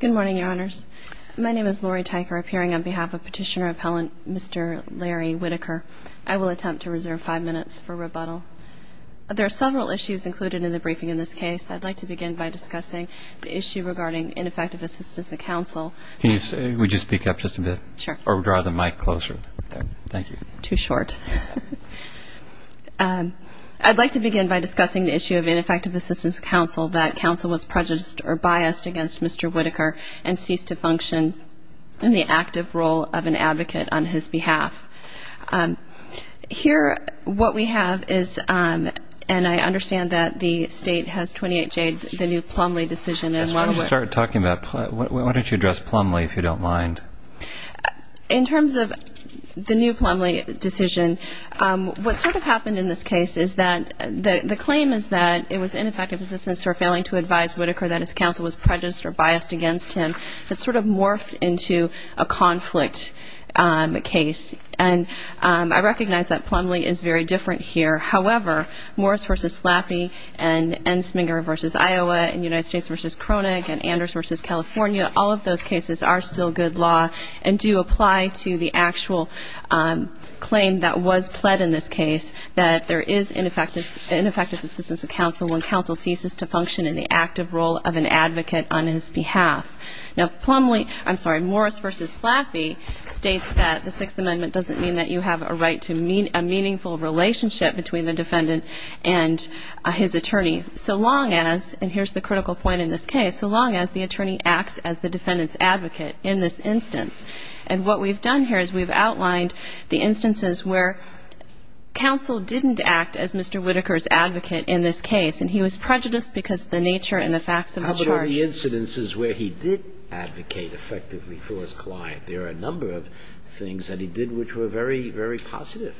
Good morning, Your Honors. My name is Lori Tyker, appearing on behalf of Petitioner-Appellant Mr. Larry Whittaker. I will attempt to reserve five minutes for rebuttal. There are several issues included in the briefing in this case. I'd like to begin by discussing the issue regarding ineffective assistance to counsel. Can you say, would you speak up just a bit? Sure. Or draw the mic closer? Thank you. Too short. I'd like to begin by discussing the issue of ineffective assistance to counsel, that counsel was prejudiced or biased against Mr. Whittaker and ceased to function in the active role of an advocate on his behalf. Here, what we have is, and I understand that the state has 28-J the new Plumlee decision. Why don't you start talking about, why don't you address Plumlee, if you don't mind? In terms of the new Plumlee decision, what sort of happened in this case is that the claim is that it was ineffective assistance for failing to advise Whittaker that his counsel was prejudiced or biased against him. It sort of morphed into a conflict case, and I recognize that Plumlee is very different here. However, Morris v. Slappy and Ensminger v. Iowa and United States v. Kroenig and Anders v. California, all of those cases are still good law and do apply to the actual claim that was pled in this case, that there is ineffective assistance to counsel when counsel ceases to function in the active role of an advocate on his behalf. Now, Plumlee, I'm sorry, Morris v. Slappy states that the Sixth Amendment doesn't mean that you have a right to a meaningful relationship between the defendant and his attorney so long as, and here's the critical point in this case, so long as the attorney acts as the defendant's advocate in this instance. And what we've done here is we've outlined the instances where counsel didn't act as Mr. Whittaker's advocate in this case, and he was prejudiced because of the nature and the facts of the charge. How about all the incidences where he did advocate effectively for his client? There are a number of things that he did which were very, very positive.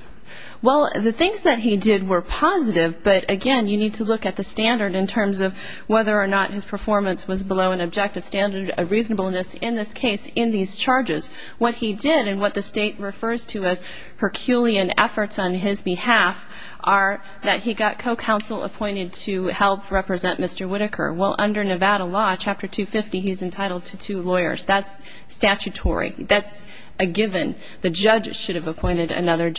Well, the things that he did were positive, but, again, you need to look at the standard in terms of whether or not his performance was below an objective standard of reasonableness in this case in these charges. What he did and what the State refers to as Herculean efforts on his behalf are that he got co-counsel appointed to help represent Mr. Whittaker. Well, under Nevada law, Chapter 250, he's entitled to two lawyers. That's statutory. That's a given. The judge should have appointed another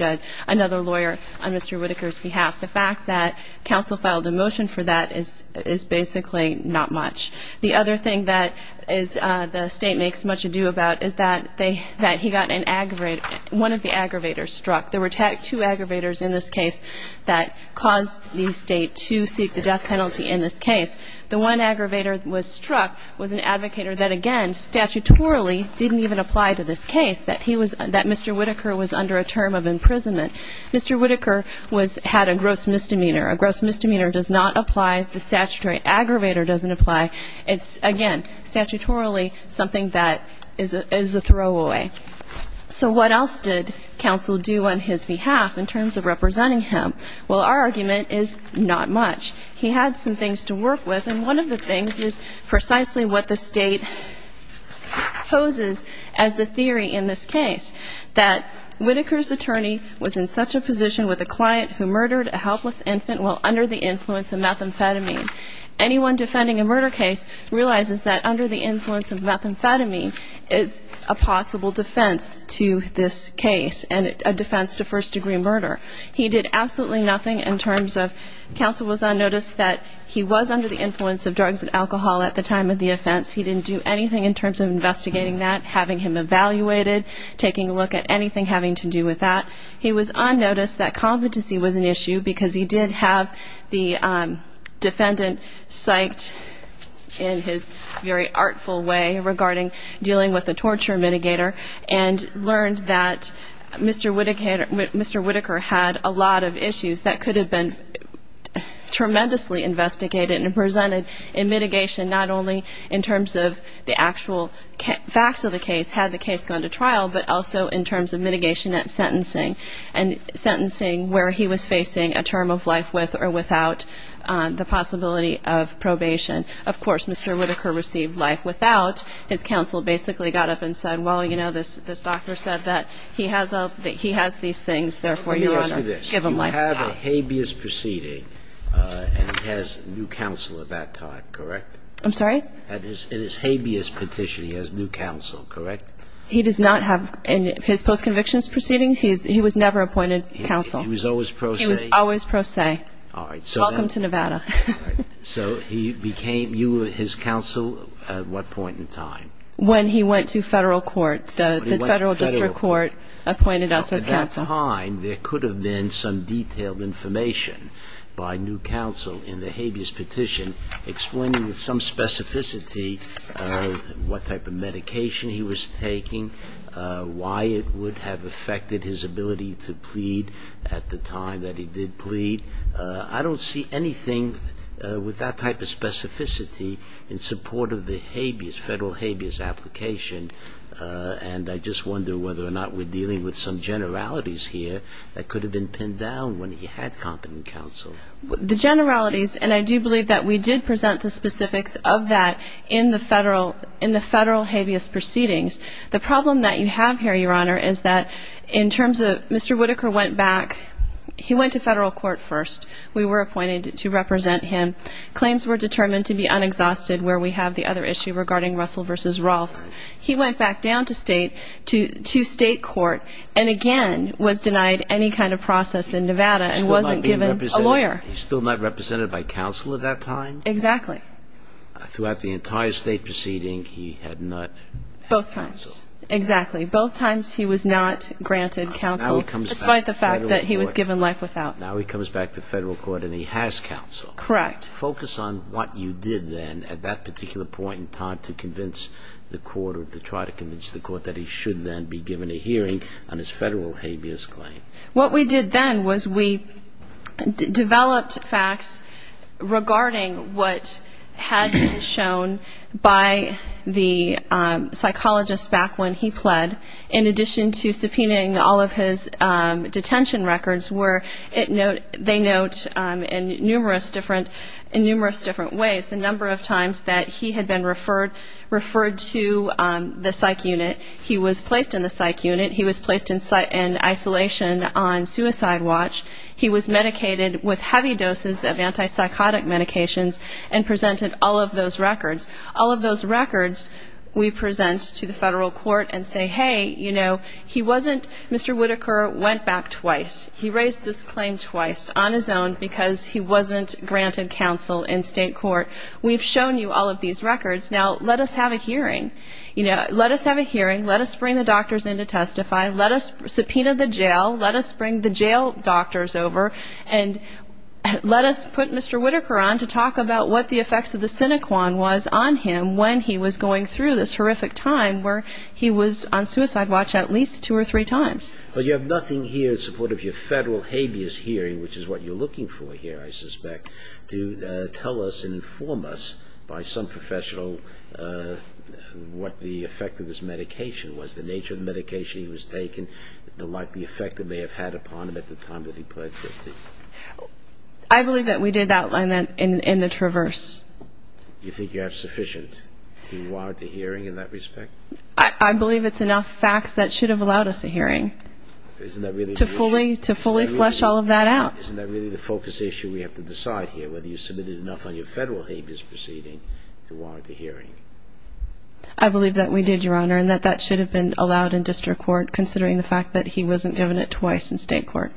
lawyer on Mr. Whittaker's behalf. The fact that counsel filed a motion for that is basically not much. The other thing that the State makes much ado about is that he got an aggravator. One of the aggravators struck. There were two aggravators in this case that caused the State to seek the death penalty in this case. The one aggravator that was struck was an advocator that, again, statutorily didn't even apply to this case, that Mr. Whittaker was under a term of imprisonment. Mr. Whittaker had a gross misdemeanor. A gross misdemeanor does not apply. The statutory aggravator doesn't apply. It's, again, statutorily something that is a throwaway. So what else did counsel do on his behalf in terms of representing him? Well, our argument is not much. He had some things to work with, and one of the things is precisely what the State poses as the theory in this case, that Whittaker's attorney was in such a position with a client who murdered a helpless infant while under the influence of methamphetamine. Anyone defending a murder case realizes that under the influence of methamphetamine is a possible defense to this case and a defense to first-degree murder. He did absolutely nothing in terms of counsel was on notice that he was under the influence of drugs and alcohol at the time of the offense. He didn't do anything in terms of investigating that, having him evaluated, taking a look at anything having to do with that. He was on notice that competency was an issue because he did have the defendant psyched in his very artful way regarding dealing with the torture mitigator and learned that Mr. Whittaker had a lot of issues that could have been tremendously investigated and presented in mitigation, not only in terms of the actual facts of the case, had the case gone to trial, but also in terms of mitigation at sentencing, and sentencing where he was facing a term of life with or without the possibility of probation. Of course, Mr. Whittaker received life without. His counsel basically got up and said, well, you know, this doctor said that he has these things, therefore, Your Honor, give him life. Let me ask you this. You have a habeas proceeding and he has new counsel at that time, correct? I'm sorry? In his habeas petition, he has new counsel, correct? He does not have any. In his post-conviction proceeding, he was never appointed counsel. He was always pro se? He was always pro se. Okay. Welcome to Nevada. So he became, you were his counsel at what point in time? When he went to federal court. The federal district court appointed us as counsel. At that time, there could have been some detailed information by new counsel in the habeas petition explaining with some specificity what type of medication he was taking, why it would have affected his ability to plead at the time that he did plead. I don't see anything with that type of specificity in support of the habeas, federal habeas application. And I just wonder whether or not we're dealing with some generalities here that could have been pinned down when he had competent counsel. The generalities, and I do believe that we did present the specifics of that in the federal habeas proceedings. The problem that you have here, Your Honor, is that in terms of Mr. Whitaker went back. He went to federal court first. We were appointed to represent him. Claims were determined to be unexhausted where we have the other issue regarding Russell v. Rolfe. He went back down to state court and again was denied any kind of process in Nevada and wasn't given a lawyer. He's still not represented by counsel at that time? Exactly. Throughout the entire state proceeding, he had not? Both times. Exactly. Both times he was not granted counsel despite the fact that he was given life without. Now he comes back to federal court and he has counsel. Correct. Focus on what you did then at that particular point in time to convince the court or to try to convince the court that he should then be given a hearing on his federal habeas claim. What we did then was we developed facts regarding what had been shown by the psychologist back when he pled, in addition to subpoenaing all of his detention records where they note in numerous different ways the number of times that he had been referred to the psych unit. He was placed in the psych unit. He was placed in isolation on suicide watch. He was medicated with heavy doses of antipsychotic medications and presented all of those records. All of those records we present to the federal court and say, hey, you know, he wasn't? Mr. Whitaker went back twice. He raised this claim twice on his own because he wasn't granted counsel in state court. We've shown you all of these records. Now let us have a hearing. Let us have a hearing. Let us bring the doctors in to testify. Let us subpoena the jail. Let us bring the jail doctors over. And let us put Mr. Whitaker on to talk about what the effects of the sinequan was on him when he was going through this horrific time where he was on suicide watch at least two or three times. But you have nothing here in support of your federal habeas hearing, which is what you're looking for here, I suspect, to tell us and inform us by some professional what the effect of this medication was, the nature of the medication he was taking, the likely effect it may have had upon him at the time that he pled guilty. I believe that we did outline that in the Traverse. You think you have sufficient to warrant a hearing in that respect? I believe it's enough facts that should have allowed us a hearing to fully flesh all of that out. Isn't that really the focus issue we have to decide here, whether you submitted enough on your federal habeas proceeding to warrant the hearing? I believe that we did, Your Honor, and that that should have been allowed in district court considering the fact that he wasn't given it twice in state court.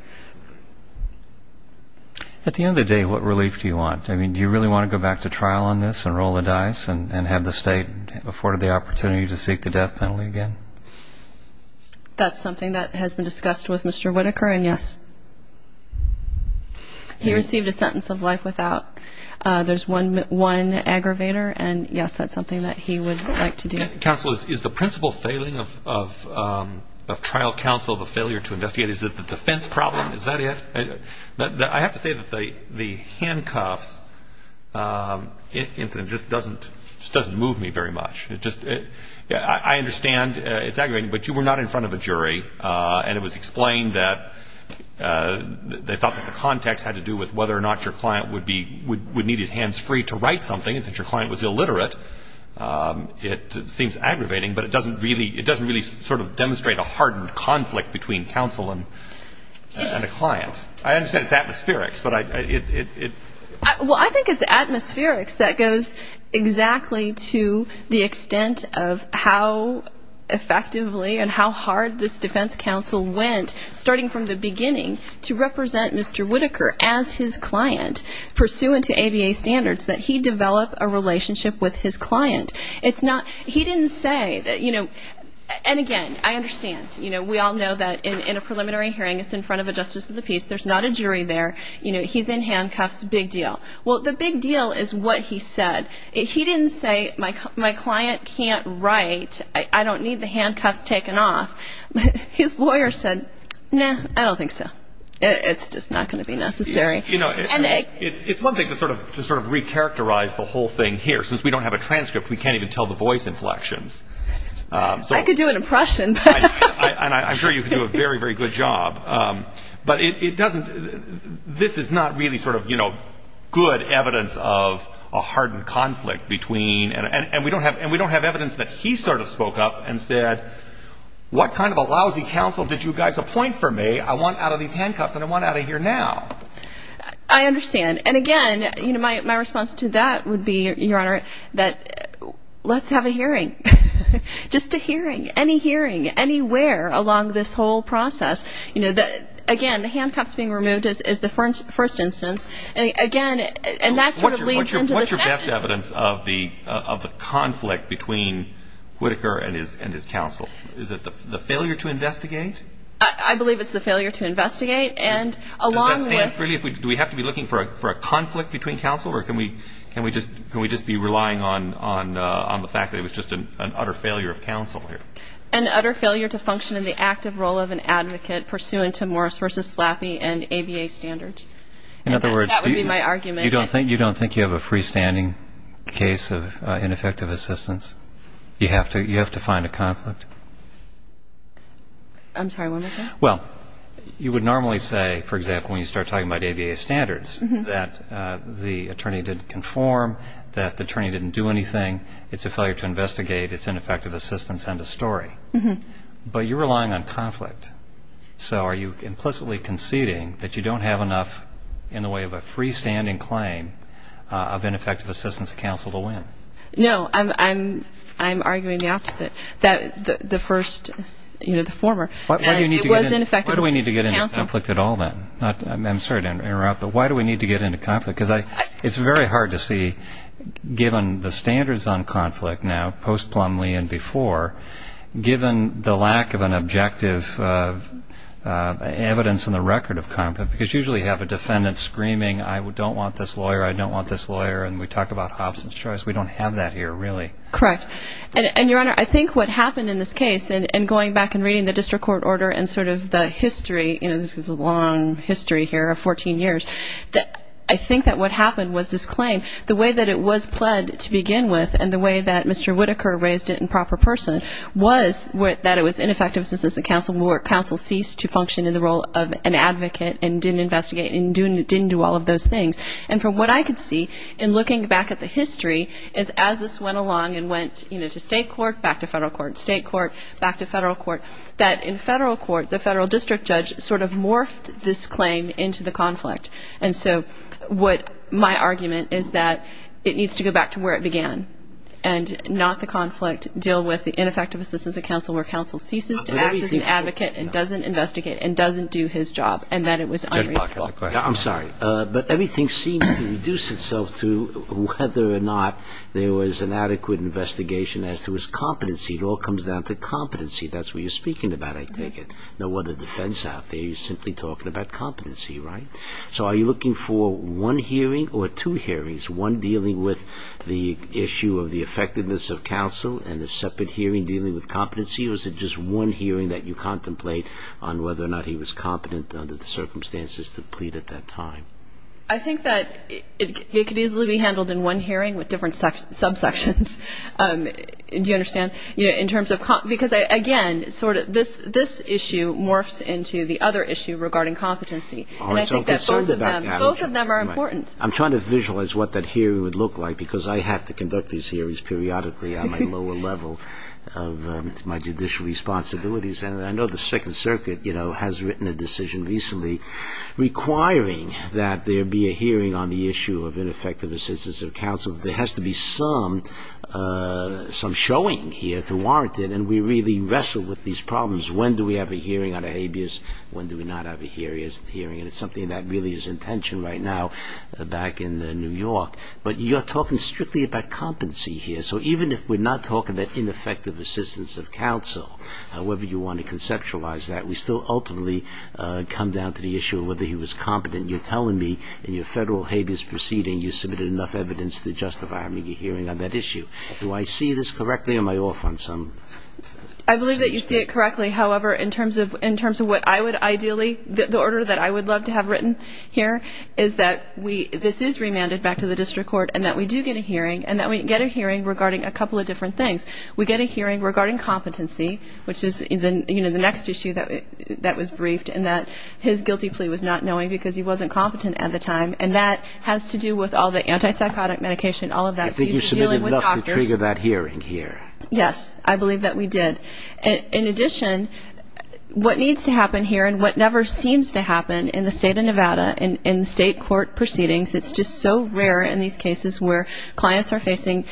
At the end of the day, what relief do you want? Do you really want to go back to trial on this and roll the dice and have the state afforded the opportunity to seek the death penalty again? That's something that has been discussed with Mr. Whitaker, and yes. He received a sentence of life without. There's one aggravator, and yes, that's something that he would like to do. Counsel, is the principal failing of trial counsel, the failure to investigate? Is it the defense problem? Is that it? I have to say that the handcuffs incident just doesn't move me very much. I understand it's aggravating, but you were not in front of a jury, and it was explained that they thought that the context had to do with whether or not your client would need his hands free to write something, and since your client was illiterate, it seems aggravating, but it doesn't really sort of demonstrate a hardened conflict between counsel and a client. I understand it's atmospherics, but it ---- Well, I think it's atmospherics that goes exactly to the extent of how effectively and how hard this defense counsel went, starting from the beginning, to represent Mr. Whitaker as his client, pursuant to ABA standards, that he develop a relationship with his client. It's not ---- He didn't say that, you know, and again, I understand. You know, we all know that in a preliminary hearing, it's in front of a justice of the peace. There's not a jury there. You know, he's in handcuffs, big deal. Well, the big deal is what he said. He didn't say, My client can't write. I don't need the handcuffs taken off. His lawyer said, Nah, I don't think so. It's just not going to be necessary. You know, it's one thing to sort of recharacterize the whole thing here. Since we don't have a transcript, we can't even tell the voice inflections. I could do an impression. And I'm sure you could do a very, very good job. But it doesn't ---- This is not really sort of, you know, good evidence of a hardened conflict between ---- And we don't have evidence that he sort of spoke up and said, What kind of a lousy counsel did you guys appoint for me? I want out of these handcuffs, and I want out of here now. I understand. And again, you know, my response to that would be, Your Honor, that let's have a hearing. Just a hearing, any hearing, anywhere along this whole process. You know, again, the handcuffs being removed is the first instance. Again, and that sort of leads into the second. What's your best evidence of the conflict between Whitaker and his counsel? Is it the failure to investigate? I believe it's the failure to investigate. And along with ---- Does that stand freely? Do we have to be looking for a conflict between counsel? Or can we just be relying on the fact that it was just an utter failure of counsel here? An utter failure to function in the active role of an advocate pursuant to Morris v. Flappi and ABA standards. In other words, do you ---- That would be my argument. You don't think you have a freestanding case of ineffective assistance? You have to find a conflict? I'm sorry, one more time. Well, you would normally say, for example, when you start talking about ABA standards, that the attorney didn't conform, that the attorney didn't do anything, it's a failure to investigate, it's ineffective assistance, end of story. But you're relying on conflict. So are you implicitly conceding that you don't have enough in the way of a freestanding claim of ineffective assistance of counsel to win? No, I'm arguing the opposite. The first, you know, the former. It was ineffective assistance of counsel. Why do we need to get into conflict at all then? I'm sorry to interrupt, but why do we need to get into conflict? Because it's very hard to see, given the standards on conflict now, post Plumlee and before, given the lack of an objective evidence in the record of conflict, because you usually have a defendant screaming, I don't want this lawyer, I don't want this lawyer, and we talk about Hobson's Choice. We don't have that here, really. Correct. And, Your Honor, I think what happened in this case, and going back and reading the district court order and sort of the history, you know, this is a long history here of 14 years, I think that what happened was this claim, the way that it was pled to begin with and the way that Mr. Whitaker raised it in proper person was that it was ineffective assistance of counsel and counsel ceased to function in the role of an advocate and didn't investigate and didn't do all of those things. And from what I could see in looking back at the history is as this went along and went, you know, to state court, back to federal court, state court, back to federal court, that in federal court the federal district judge sort of morphed this claim into the conflict. And so what my argument is that it needs to go back to where it began and not the conflict deal with the ineffective assistance of counsel where counsel ceases to act as an advocate and doesn't investigate and doesn't do his job and that it was unreasonable. I'm sorry, but everything seems to reduce itself to whether or not there was an adequate investigation as to his competency. It all comes down to competency. That's what you're speaking about, I take it. No other defense out there. You're simply talking about competency, right? So are you looking for one hearing or two hearings, one dealing with the issue of the effectiveness of counsel and a separate hearing dealing with competency or is it just one hearing that you contemplate on whether or not he was competent under the circumstances to plead at that time? I think that it could easily be handled in one hearing with different subsections. Do you understand? Because, again, this issue morphs into the other issue regarding competency. And I think that both of them are important. I'm trying to visualize what that hearing would look like because I have to conduct these hearings periodically on my lower level of my judicial responsibilities. And I know the Second Circuit has written a decision recently requiring that there be a hearing on the issue of ineffective assistance of counsel. There has to be some showing here to warrant it. And we really wrestle with these problems. When do we have a hearing on a habeas? When do we not have a hearing? And it's something that really is in tension right now back in New York. But you're talking strictly about competency here. So even if we're not talking about ineffective assistance of counsel, however you want to conceptualize that, we still ultimately come down to the issue of whether he was competent. You're telling me in your federal habeas proceeding you submitted enough evidence to justify a media hearing on that issue. Do I see this correctly or am I off on some? I believe that you see it correctly. However, in terms of what I would ideally, the order that I would love to have written here, is that this is remanded back to the district court and that we do get a hearing and that we get a hearing regarding a couple of different things. We get a hearing regarding competency, which is the next issue that was briefed, and that his guilty plea was not knowing because he wasn't competent at the time. And that has to do with all the antipsychotic medication, all of that. I think you submitted enough to trigger that hearing here. Yes, I believe that we did. In addition, what needs to happen here and what never seems to happen in the state of Nevada in state court proceedings, it's just so rare in these cases where clients are facing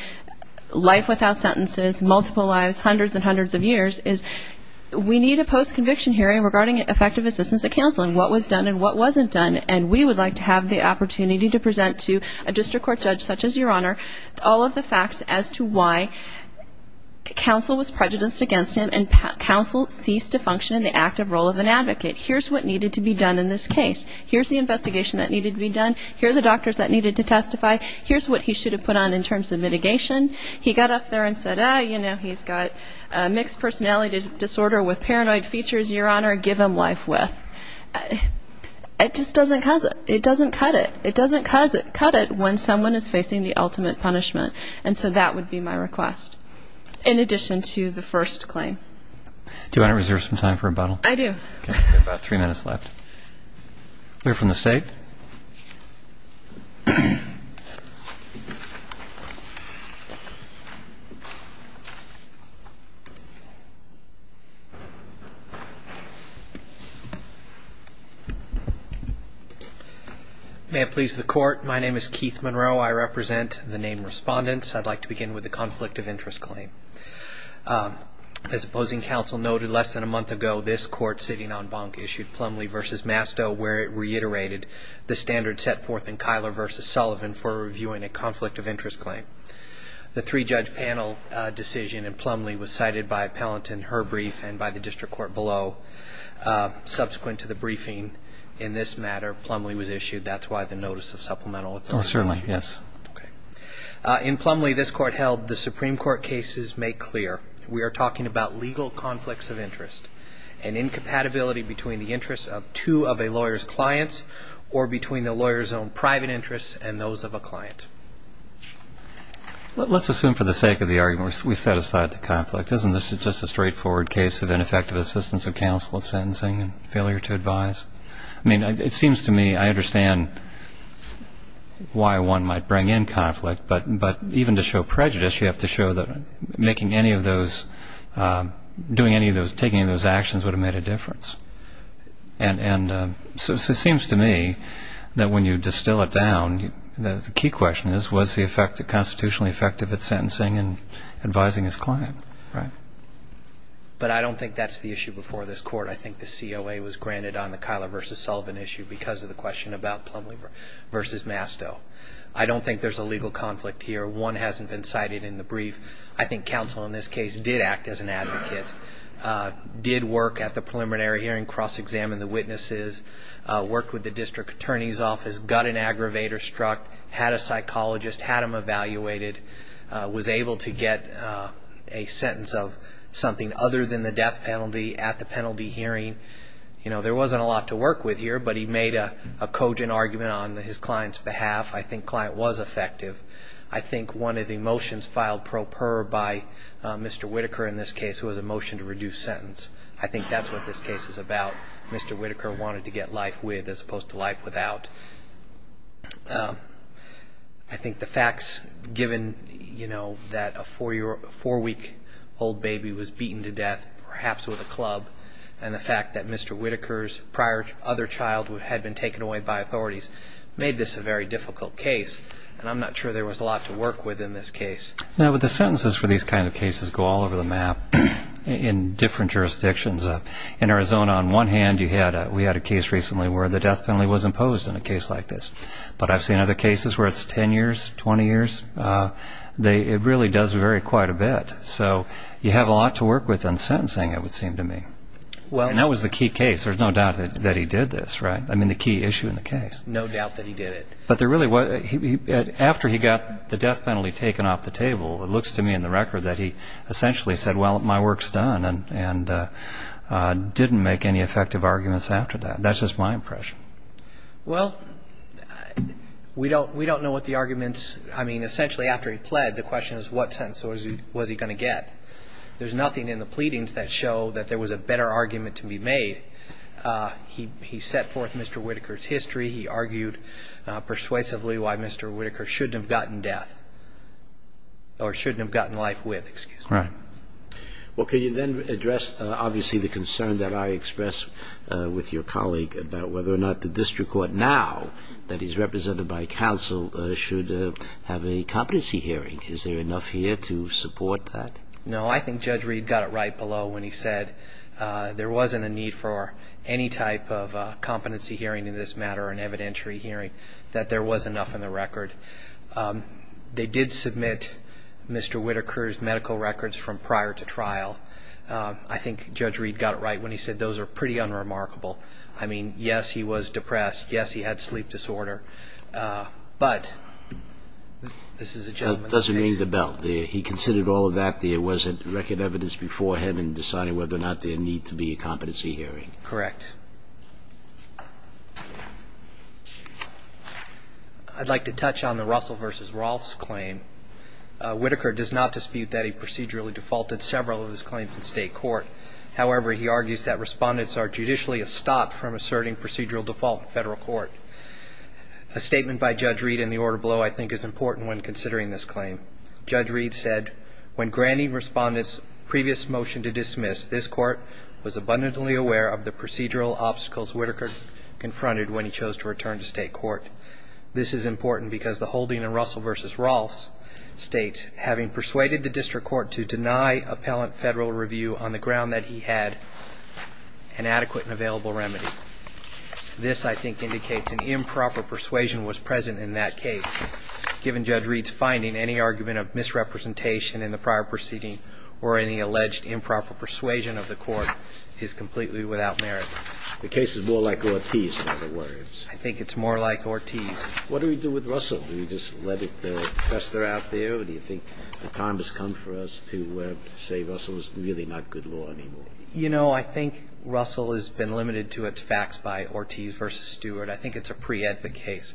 life without sentences, multiple lives, hundreds and hundreds of years, is we need a post-conviction hearing regarding effective assistance of counsel and what was done and what wasn't done. And we would like to have the opportunity to present to a district court judge such as your Honor all of the facts as to why counsel was prejudiced against him and counsel ceased to function in the active role of an advocate. Here's what needed to be done in this case. Here's the investigation that needed to be done. Here are the doctors that needed to testify. Here's what he should have put on in terms of mitigation. He got up there and said, ah, you know, he's got mixed personality disorder with paranoid features, your Honor, give him life with. It just doesn't cut it. It doesn't cut it. It doesn't cut it when someone is facing the ultimate punishment. And so that would be my request in addition to the first claim. Do you want to reserve some time for rebuttal? I do. Okay. We have about three minutes left. Clear from the State. May it please the Court, my name is Keith Monroe. I represent the named respondents. I'd like to begin with the conflict of interest claim. As opposing counsel noted less than a month ago, this Court sitting on Bonk issued Plumlee v. Masto where it reiterated the standard set forth in Kyler v. Sullivan for reviewing a conflict of interest claim. The three-judge panel decision in Plumlee was cited by Appellant in her brief and by the District Court below. Subsequent to the briefing in this matter, Plumlee was issued. That's why the notice of supplemental authority. Oh, certainly, yes. Okay. In Plumlee this Court held the Supreme Court cases make clear we are talking about legal conflicts of interest and incompatibility between the interests of two of a lawyer's clients or between the lawyer's own private interests and those of a client. Let's assume for the sake of the argument we set aside the conflict. Isn't this just a straightforward case of ineffective assistance of counsel in sentencing and failure to advise? I mean, it seems to me I understand why one might bring in conflict, but even to show prejudice you have to show that making any of those, doing any of those, taking those actions would have made a difference. And so it seems to me that when you distill it down, the key question is was he constitutionally effective at sentencing and advising his client, right? But I don't think that's the issue before this Court. I think the COA was granted on the Kyler v. Sullivan issue because of the question about Plumlee v. Masto. I don't think there's a legal conflict here. One hasn't been cited in the brief. I think counsel in this case did act as an advocate, did work at the preliminary hearing, cross-examined the witnesses, worked with the district attorney's office, got an aggravator struck, had a psychologist, had him evaluated, was able to get a sentence of something other than the death penalty at the penalty hearing. You know, there wasn't a lot to work with here, but he made a cogent argument on his client's behalf. I think client was effective. I think one of the motions filed pro per by Mr. Whitaker in this case was a motion to reduce sentence. I think that's what this case is about. Mr. Whitaker wanted to get life with as opposed to life without. I think the facts, given, you know, that a four-week-old baby was beaten to death, perhaps with a club, and the fact that Mr. Whitaker's prior other child had been taken away by authorities made this a very difficult case, and I'm not sure there was a lot to work with in this case. No, but the sentences for these kinds of cases go all over the map in different jurisdictions. In Arizona, on one hand, we had a case recently where the death penalty was imposed in a case like this. But I've seen other cases where it's 10 years, 20 years. It really does vary quite a bit. So you have a lot to work with on sentencing, it would seem to me. And that was the key case. There's no doubt that he did this, right? I mean, the key issue in the case. No doubt that he did it. But there really was, after he got the death penalty taken off the table, it looks to me in the record that he essentially said, well, my work's done and didn't make any effective arguments after that. That's just my impression. Well, we don't know what the arguments, I mean, essentially after he pled, the question is what sentence was he going to get. There's nothing in the pleadings that show that there was a better argument to be made. He set forth Mr. Whitaker's history. He argued persuasively why Mr. Whitaker shouldn't have gotten death or shouldn't have gotten life with, excuse me. Right. Well, can you then address, obviously, the concern that I expressed with your colleague about whether or not the district court now that is represented by counsel should have a competency hearing? Is there enough here to support that? No, I think Judge Reed got it right below when he said there wasn't a need for any type of competency hearing in this matter, an evidentiary hearing, that there was enough in the record. They did submit Mr. Whitaker's medical records from prior to trial. I think Judge Reed got it right when he said those are pretty unremarkable. I mean, yes, he was depressed. Yes, he had sleep disorder. But this is a gentleman's case. It doesn't ring the bell. He considered all of that there wasn't record evidence before him in deciding whether or not there need to be a competency hearing. Correct. I'd like to touch on the Russell v. Rolfe's claim. Whitaker does not dispute that he procedurally defaulted several of his claims in state court. However, he argues that respondents are judicially a stop from asserting procedural default in federal court. A statement by Judge Reed in the order below, I think, is important when considering this claim. Judge Reed said, when granting respondents' previous motion to dismiss, this court was abundantly aware of the procedural obstacles Whitaker confronted when he chose to return to state court. This is important because the holding in Russell v. Rolfe's state, having persuaded the district court to deny appellant federal review on the ground that he had an adequate and available remedy. This, I think, indicates an improper persuasion was present in that case. Given Judge Reed's finding, any argument of misrepresentation in the prior proceeding or any alleged improper persuasion of the court is completely without merit. The case is more like Ortiz, in other words. I think it's more like Ortiz. What do we do with Russell? Do we just let it fester out there? Or do you think the time has come for us to say Russell is really not good law anymore? You know, I think Russell has been limited to its facts by Ortiz v. Stewart. I think it's a pre-ed the case.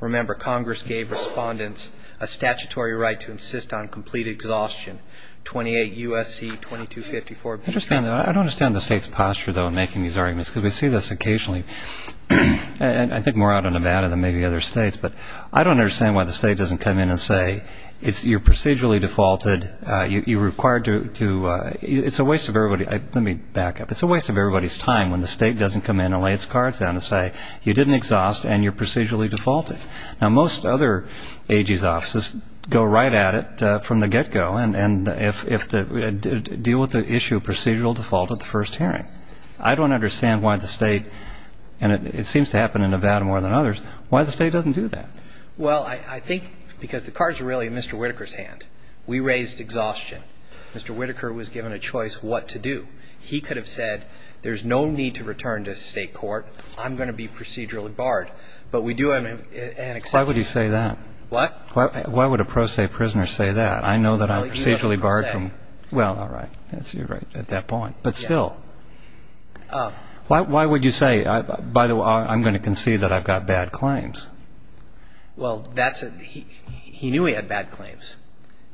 Remember, Congress gave respondents a statutory right to insist on complete exhaustion. 28 U.S.C. 2254. I don't understand the state's posture, though, in making these arguments because we see this occasionally. I think more out in Nevada than maybe other states. But I don't understand why the state doesn't come in and say you're procedurally defaulted. You're required to do it. It's a waste of everybody's time when the state doesn't come in and lay its cards down and say you didn't exhaust and you're procedurally defaulted. Now, most other AG's offices go right at it from the get-go and deal with the issue of procedural default at the first hearing. I don't understand why the state, and it seems to happen in Nevada more than others, why the state doesn't do that. Well, I think because the cards are really in Mr. Whitaker's hand. We raised exhaustion. Mr. Whitaker was given a choice what to do. He could have said there's no need to return to state court. I'm going to be procedurally barred. But we do have an exception. Why would he say that? What? Why would a pro se prisoner say that? I know that I'm procedurally barred from. Well, all right. You're right at that point. But still, why would you say, by the way, I'm going to concede that I've got bad claims? Well, he knew he had bad claims.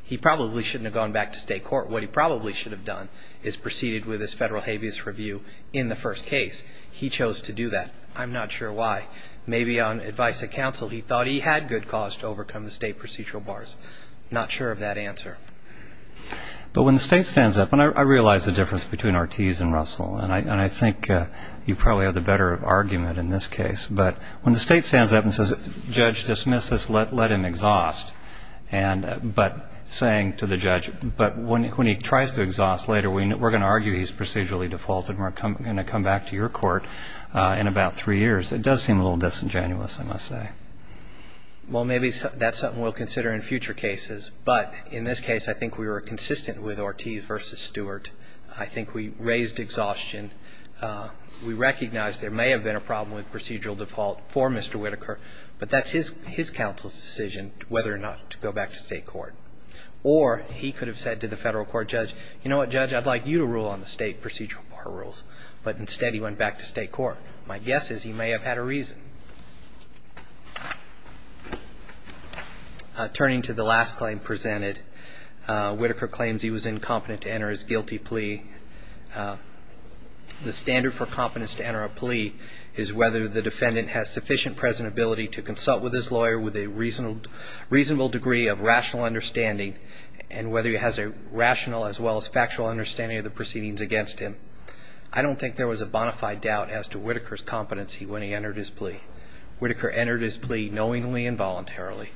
He probably shouldn't have gone back to state court. What he probably should have done is proceeded with his federal habeas review in the first case. He chose to do that. I'm not sure why. Maybe on advice of counsel he thought he had good cause to overcome the state procedural bars. Not sure of that answer. But when the state stands up, and I realize the difference between Ortiz and Russell, and I think you probably have the better argument in this case, but when the state stands up and says, Judge, dismiss this, let him exhaust, but saying to the judge, but when he tries to exhaust later, we're going to argue he's procedurally defaulted and we're going to come back to your court in about three years, it does seem a little disingenuous, I must say. Well, maybe that's something we'll consider in future cases. But in this case, I think we were consistent with Ortiz versus Stewart. I think we raised exhaustion. We recognized there may have been a problem with procedural default for Mr. Whitaker, but that's his counsel's decision whether or not to go back to state court. Or he could have said to the federal court, Judge, you know what, Judge, I'd like you to rule on the state procedural bar rules. But instead he went back to state court. My guess is he may have had a reason. Turning to the last claim presented, Whitaker claims he was incompetent to enter his guilty plea. The standard for competence to enter a plea is whether the defendant has sufficient present ability to consult with his lawyer with a reasonable degree of rational understanding and whether he has a rational as well as factual understanding of the proceedings against him. I don't think there was a bonafide doubt as to Whitaker's competency Whitaker entered his plea knowingly and voluntarily.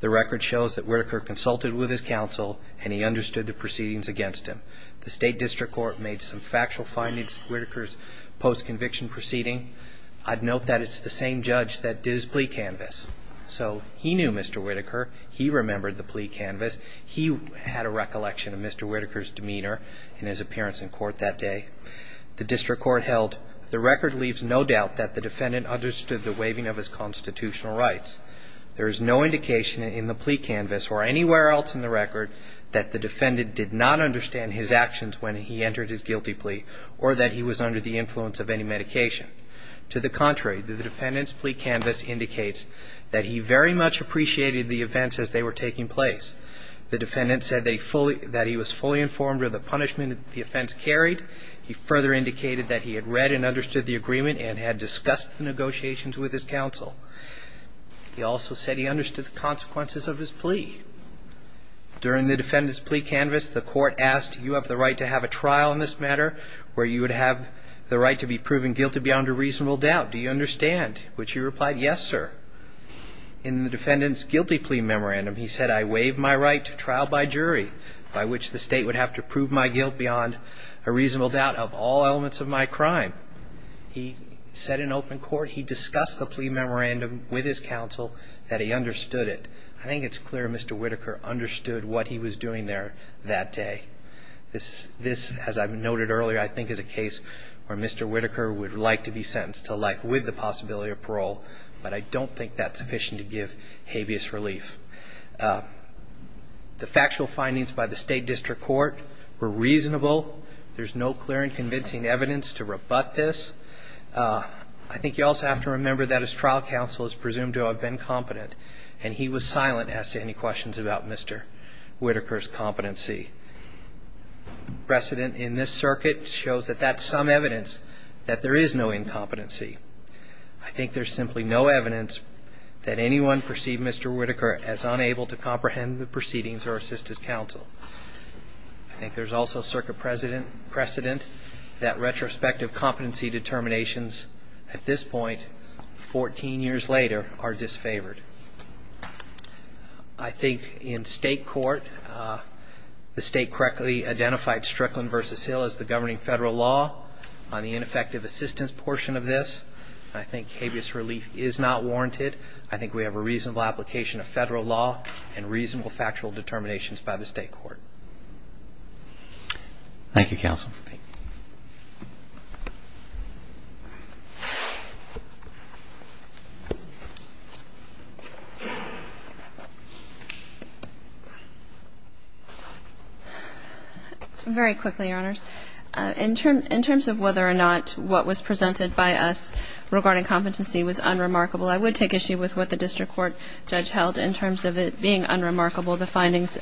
The record shows that Whitaker consulted with his counsel and he understood the proceedings against him. The state district court made some factual findings of Whitaker's post-conviction proceeding. I'd note that it's the same judge that did his plea canvas. So he knew Mr. Whitaker. He remembered the plea canvas. He had a recollection of Mr. Whitaker's demeanor and his appearance in court that day. The district court held the record leaves no doubt that the defendant understood the waiving of his constitutional rights. There is no indication in the plea canvas or anywhere else in the record that the defendant did not understand his actions when he entered his guilty plea or that he was under the influence of any medication. To the contrary, the defendant's plea canvas indicates that he very much appreciated the events as they were taking place. The defendant said that he was fully informed of the punishment the offense carried. He further indicated that he had read and understood the agreement and had discussed the negotiations with his counsel. He also said he understood the consequences of his plea. During the defendant's plea canvas, the court asked, do you have the right to have a trial in this matter where you would have the right to be proven guilty beyond a reasonable doubt? Do you understand? Which he replied, yes, sir. In the defendant's guilty plea memorandum, he said, I waive my right to trial by jury by which the state would have to prove my guilt beyond a reasonable doubt of all elements of my crime. He said in open court he discussed the plea memorandum with his counsel that he understood it. I think it's clear Mr. Whitaker understood what he was doing there that day. This, as I noted earlier, I think is a case where Mr. Whitaker would like to be sentenced to life with the possibility of parole, but I don't think that's sufficient to give habeas relief. The factual findings by the State District Court were reasonable. There's no clear and convincing evidence to rebut this. I think you also have to remember that his trial counsel is presumed to have been competent, and he was silent as to any questions about Mr. Whitaker's competency. The precedent in this circuit shows that that's some evidence that there is no incompetency. I think there's simply no evidence that anyone perceived Mr. Whitaker as unable to comprehend the proceedings or assist his counsel. I think there's also a circuit precedent that retrospective competency determinations at this point, 14 years later, are disfavored. I think in state court the state correctly identified Strickland v. Hill as the governing federal law on the ineffective assistance portion of this. I think habeas relief is not warranted. I think we have a reasonable application of federal law and reasonable factual determinations by the state court. Thank you, counsel. Very quickly, Your Honors. In terms of whether or not what was presented by us regarding competency was unremarkable, I would take issue with what the district court judge held in terms of it being unremarkable, the findings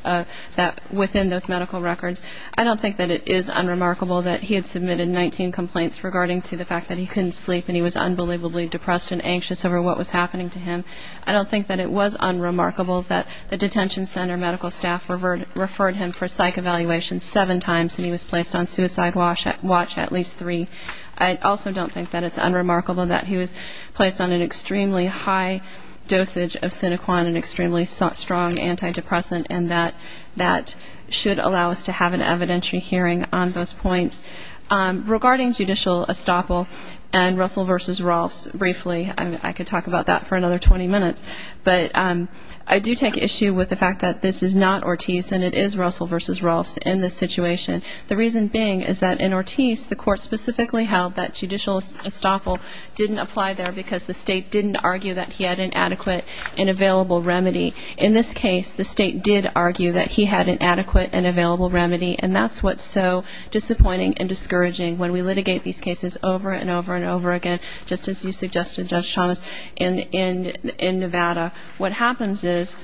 within those medical records. I don't think that it is unremarkable that he had submitted 19 complaints regarding to the fact that he couldn't sleep and he was unbelievably depressed and anxious over what was happening to him. I don't think that it was unremarkable that the detention center medical staff referred him for psych evaluation seven times and he was placed on suicide watch at least three. I also don't think that it's unremarkable that he was placed on an extremely high dosage of Sinoquan, an extremely strong antidepressant, and that that should allow us to have an evidentiary hearing on those points. Regarding judicial estoppel and Russell v. Rolfes, briefly, I could talk about that for another 20 minutes, but I do take issue with the fact that this is not Ortiz and it is Russell v. Rolfes in this situation, the reason being is that in Ortiz, the court specifically held that judicial estoppel didn't apply there because the state didn't argue that he had an adequate and available remedy. In this case, the state did argue that he had an adequate and available remedy, and that's what's so disappointing and discouraging when we litigate these cases over and over and over again, just as you suggested, Judge Thomas, in Nevada. What happens is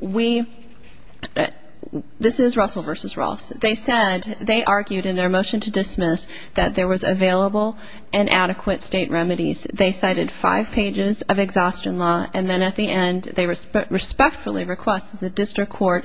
we — this is Russell v. Rolfes. They said, they argued in their motion to dismiss that there was available and adequate state remedies. They cited five pages of exhaustion law, and then at the end they respectfully request that the district court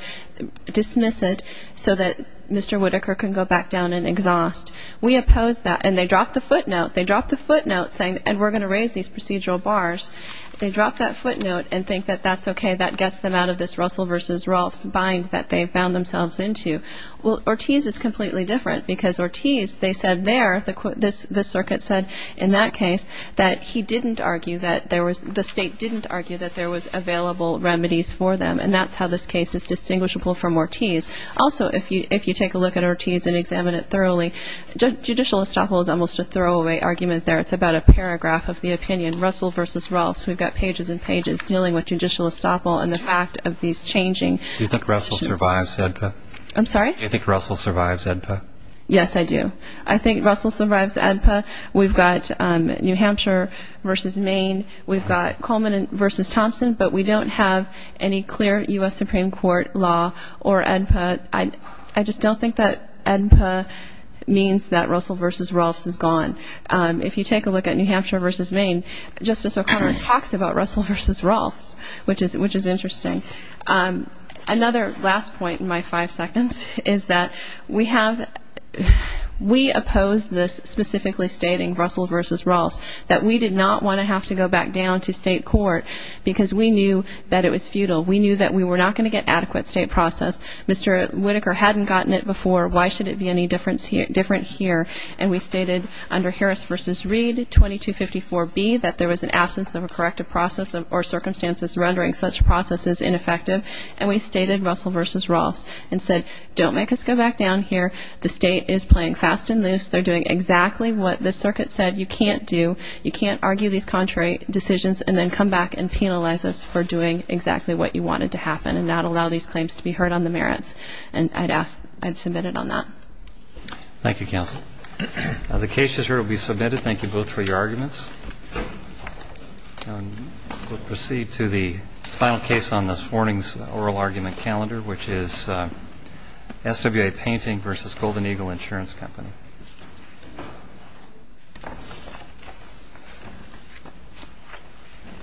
dismiss it so that Mr. Whitaker can go back down and exhaust. We oppose that, and they drop the footnote. They drop the footnote saying, and we're going to raise these procedural bars. They drop that footnote and think that that's okay, that gets them out of this Russell v. Rolfes bind that they've found themselves into. Well, Ortiz is completely different because Ortiz, they said there, the circuit said in that case that he didn't argue that there was — the state didn't argue that there was available remedies for them, and that's how this case is distinguishable from Ortiz. Also, if you take a look at Ortiz and examine it thoroughly, judicial estoppel is almost a throwaway argument there. It's about a paragraph of the opinion, Russell v. Rolfes. We've got pages and pages dealing with judicial estoppel and the fact of these changing — Do you think Russell survives AEDPA? I'm sorry? Do you think Russell survives AEDPA? Yes, I do. I think Russell survives AEDPA. We've got New Hampshire v. Maine. We've got Coleman v. Thompson, but we don't have any clear U.S. Supreme Court law or AEDPA. I just don't think that AEDPA means that Russell v. Rolfes is gone. If you take a look at New Hampshire v. Maine, Justice O'Connor talks about Russell v. Rolfes, which is interesting. Another last point in my five seconds is that we have — we opposed this specifically stating Russell v. Rolfes, that we did not want to have to go back down to state court because we knew that it was futile. We knew that we were not going to get adequate state process. Mr. Whitaker hadn't gotten it before. Why should it be any different here? And we stated under Harris v. Reed 2254B that there was an absence of a corrective process or circumstances rendering such processes ineffective. And we stated Russell v. Rolfes and said, don't make us go back down here. The state is playing fast and loose. They're doing exactly what the circuit said you can't do. You can't argue these contrary decisions and then come back and penalize us for doing exactly what you wanted to happen and not allow these claims to be heard on the merits. And I'd submit it on that. Thank you, counsel. The case just heard will be submitted. Thank you both for your arguments. We'll proceed to the final case on this morning's oral argument calendar, which is SWA Painting v. Golden Eagle Insurance Company.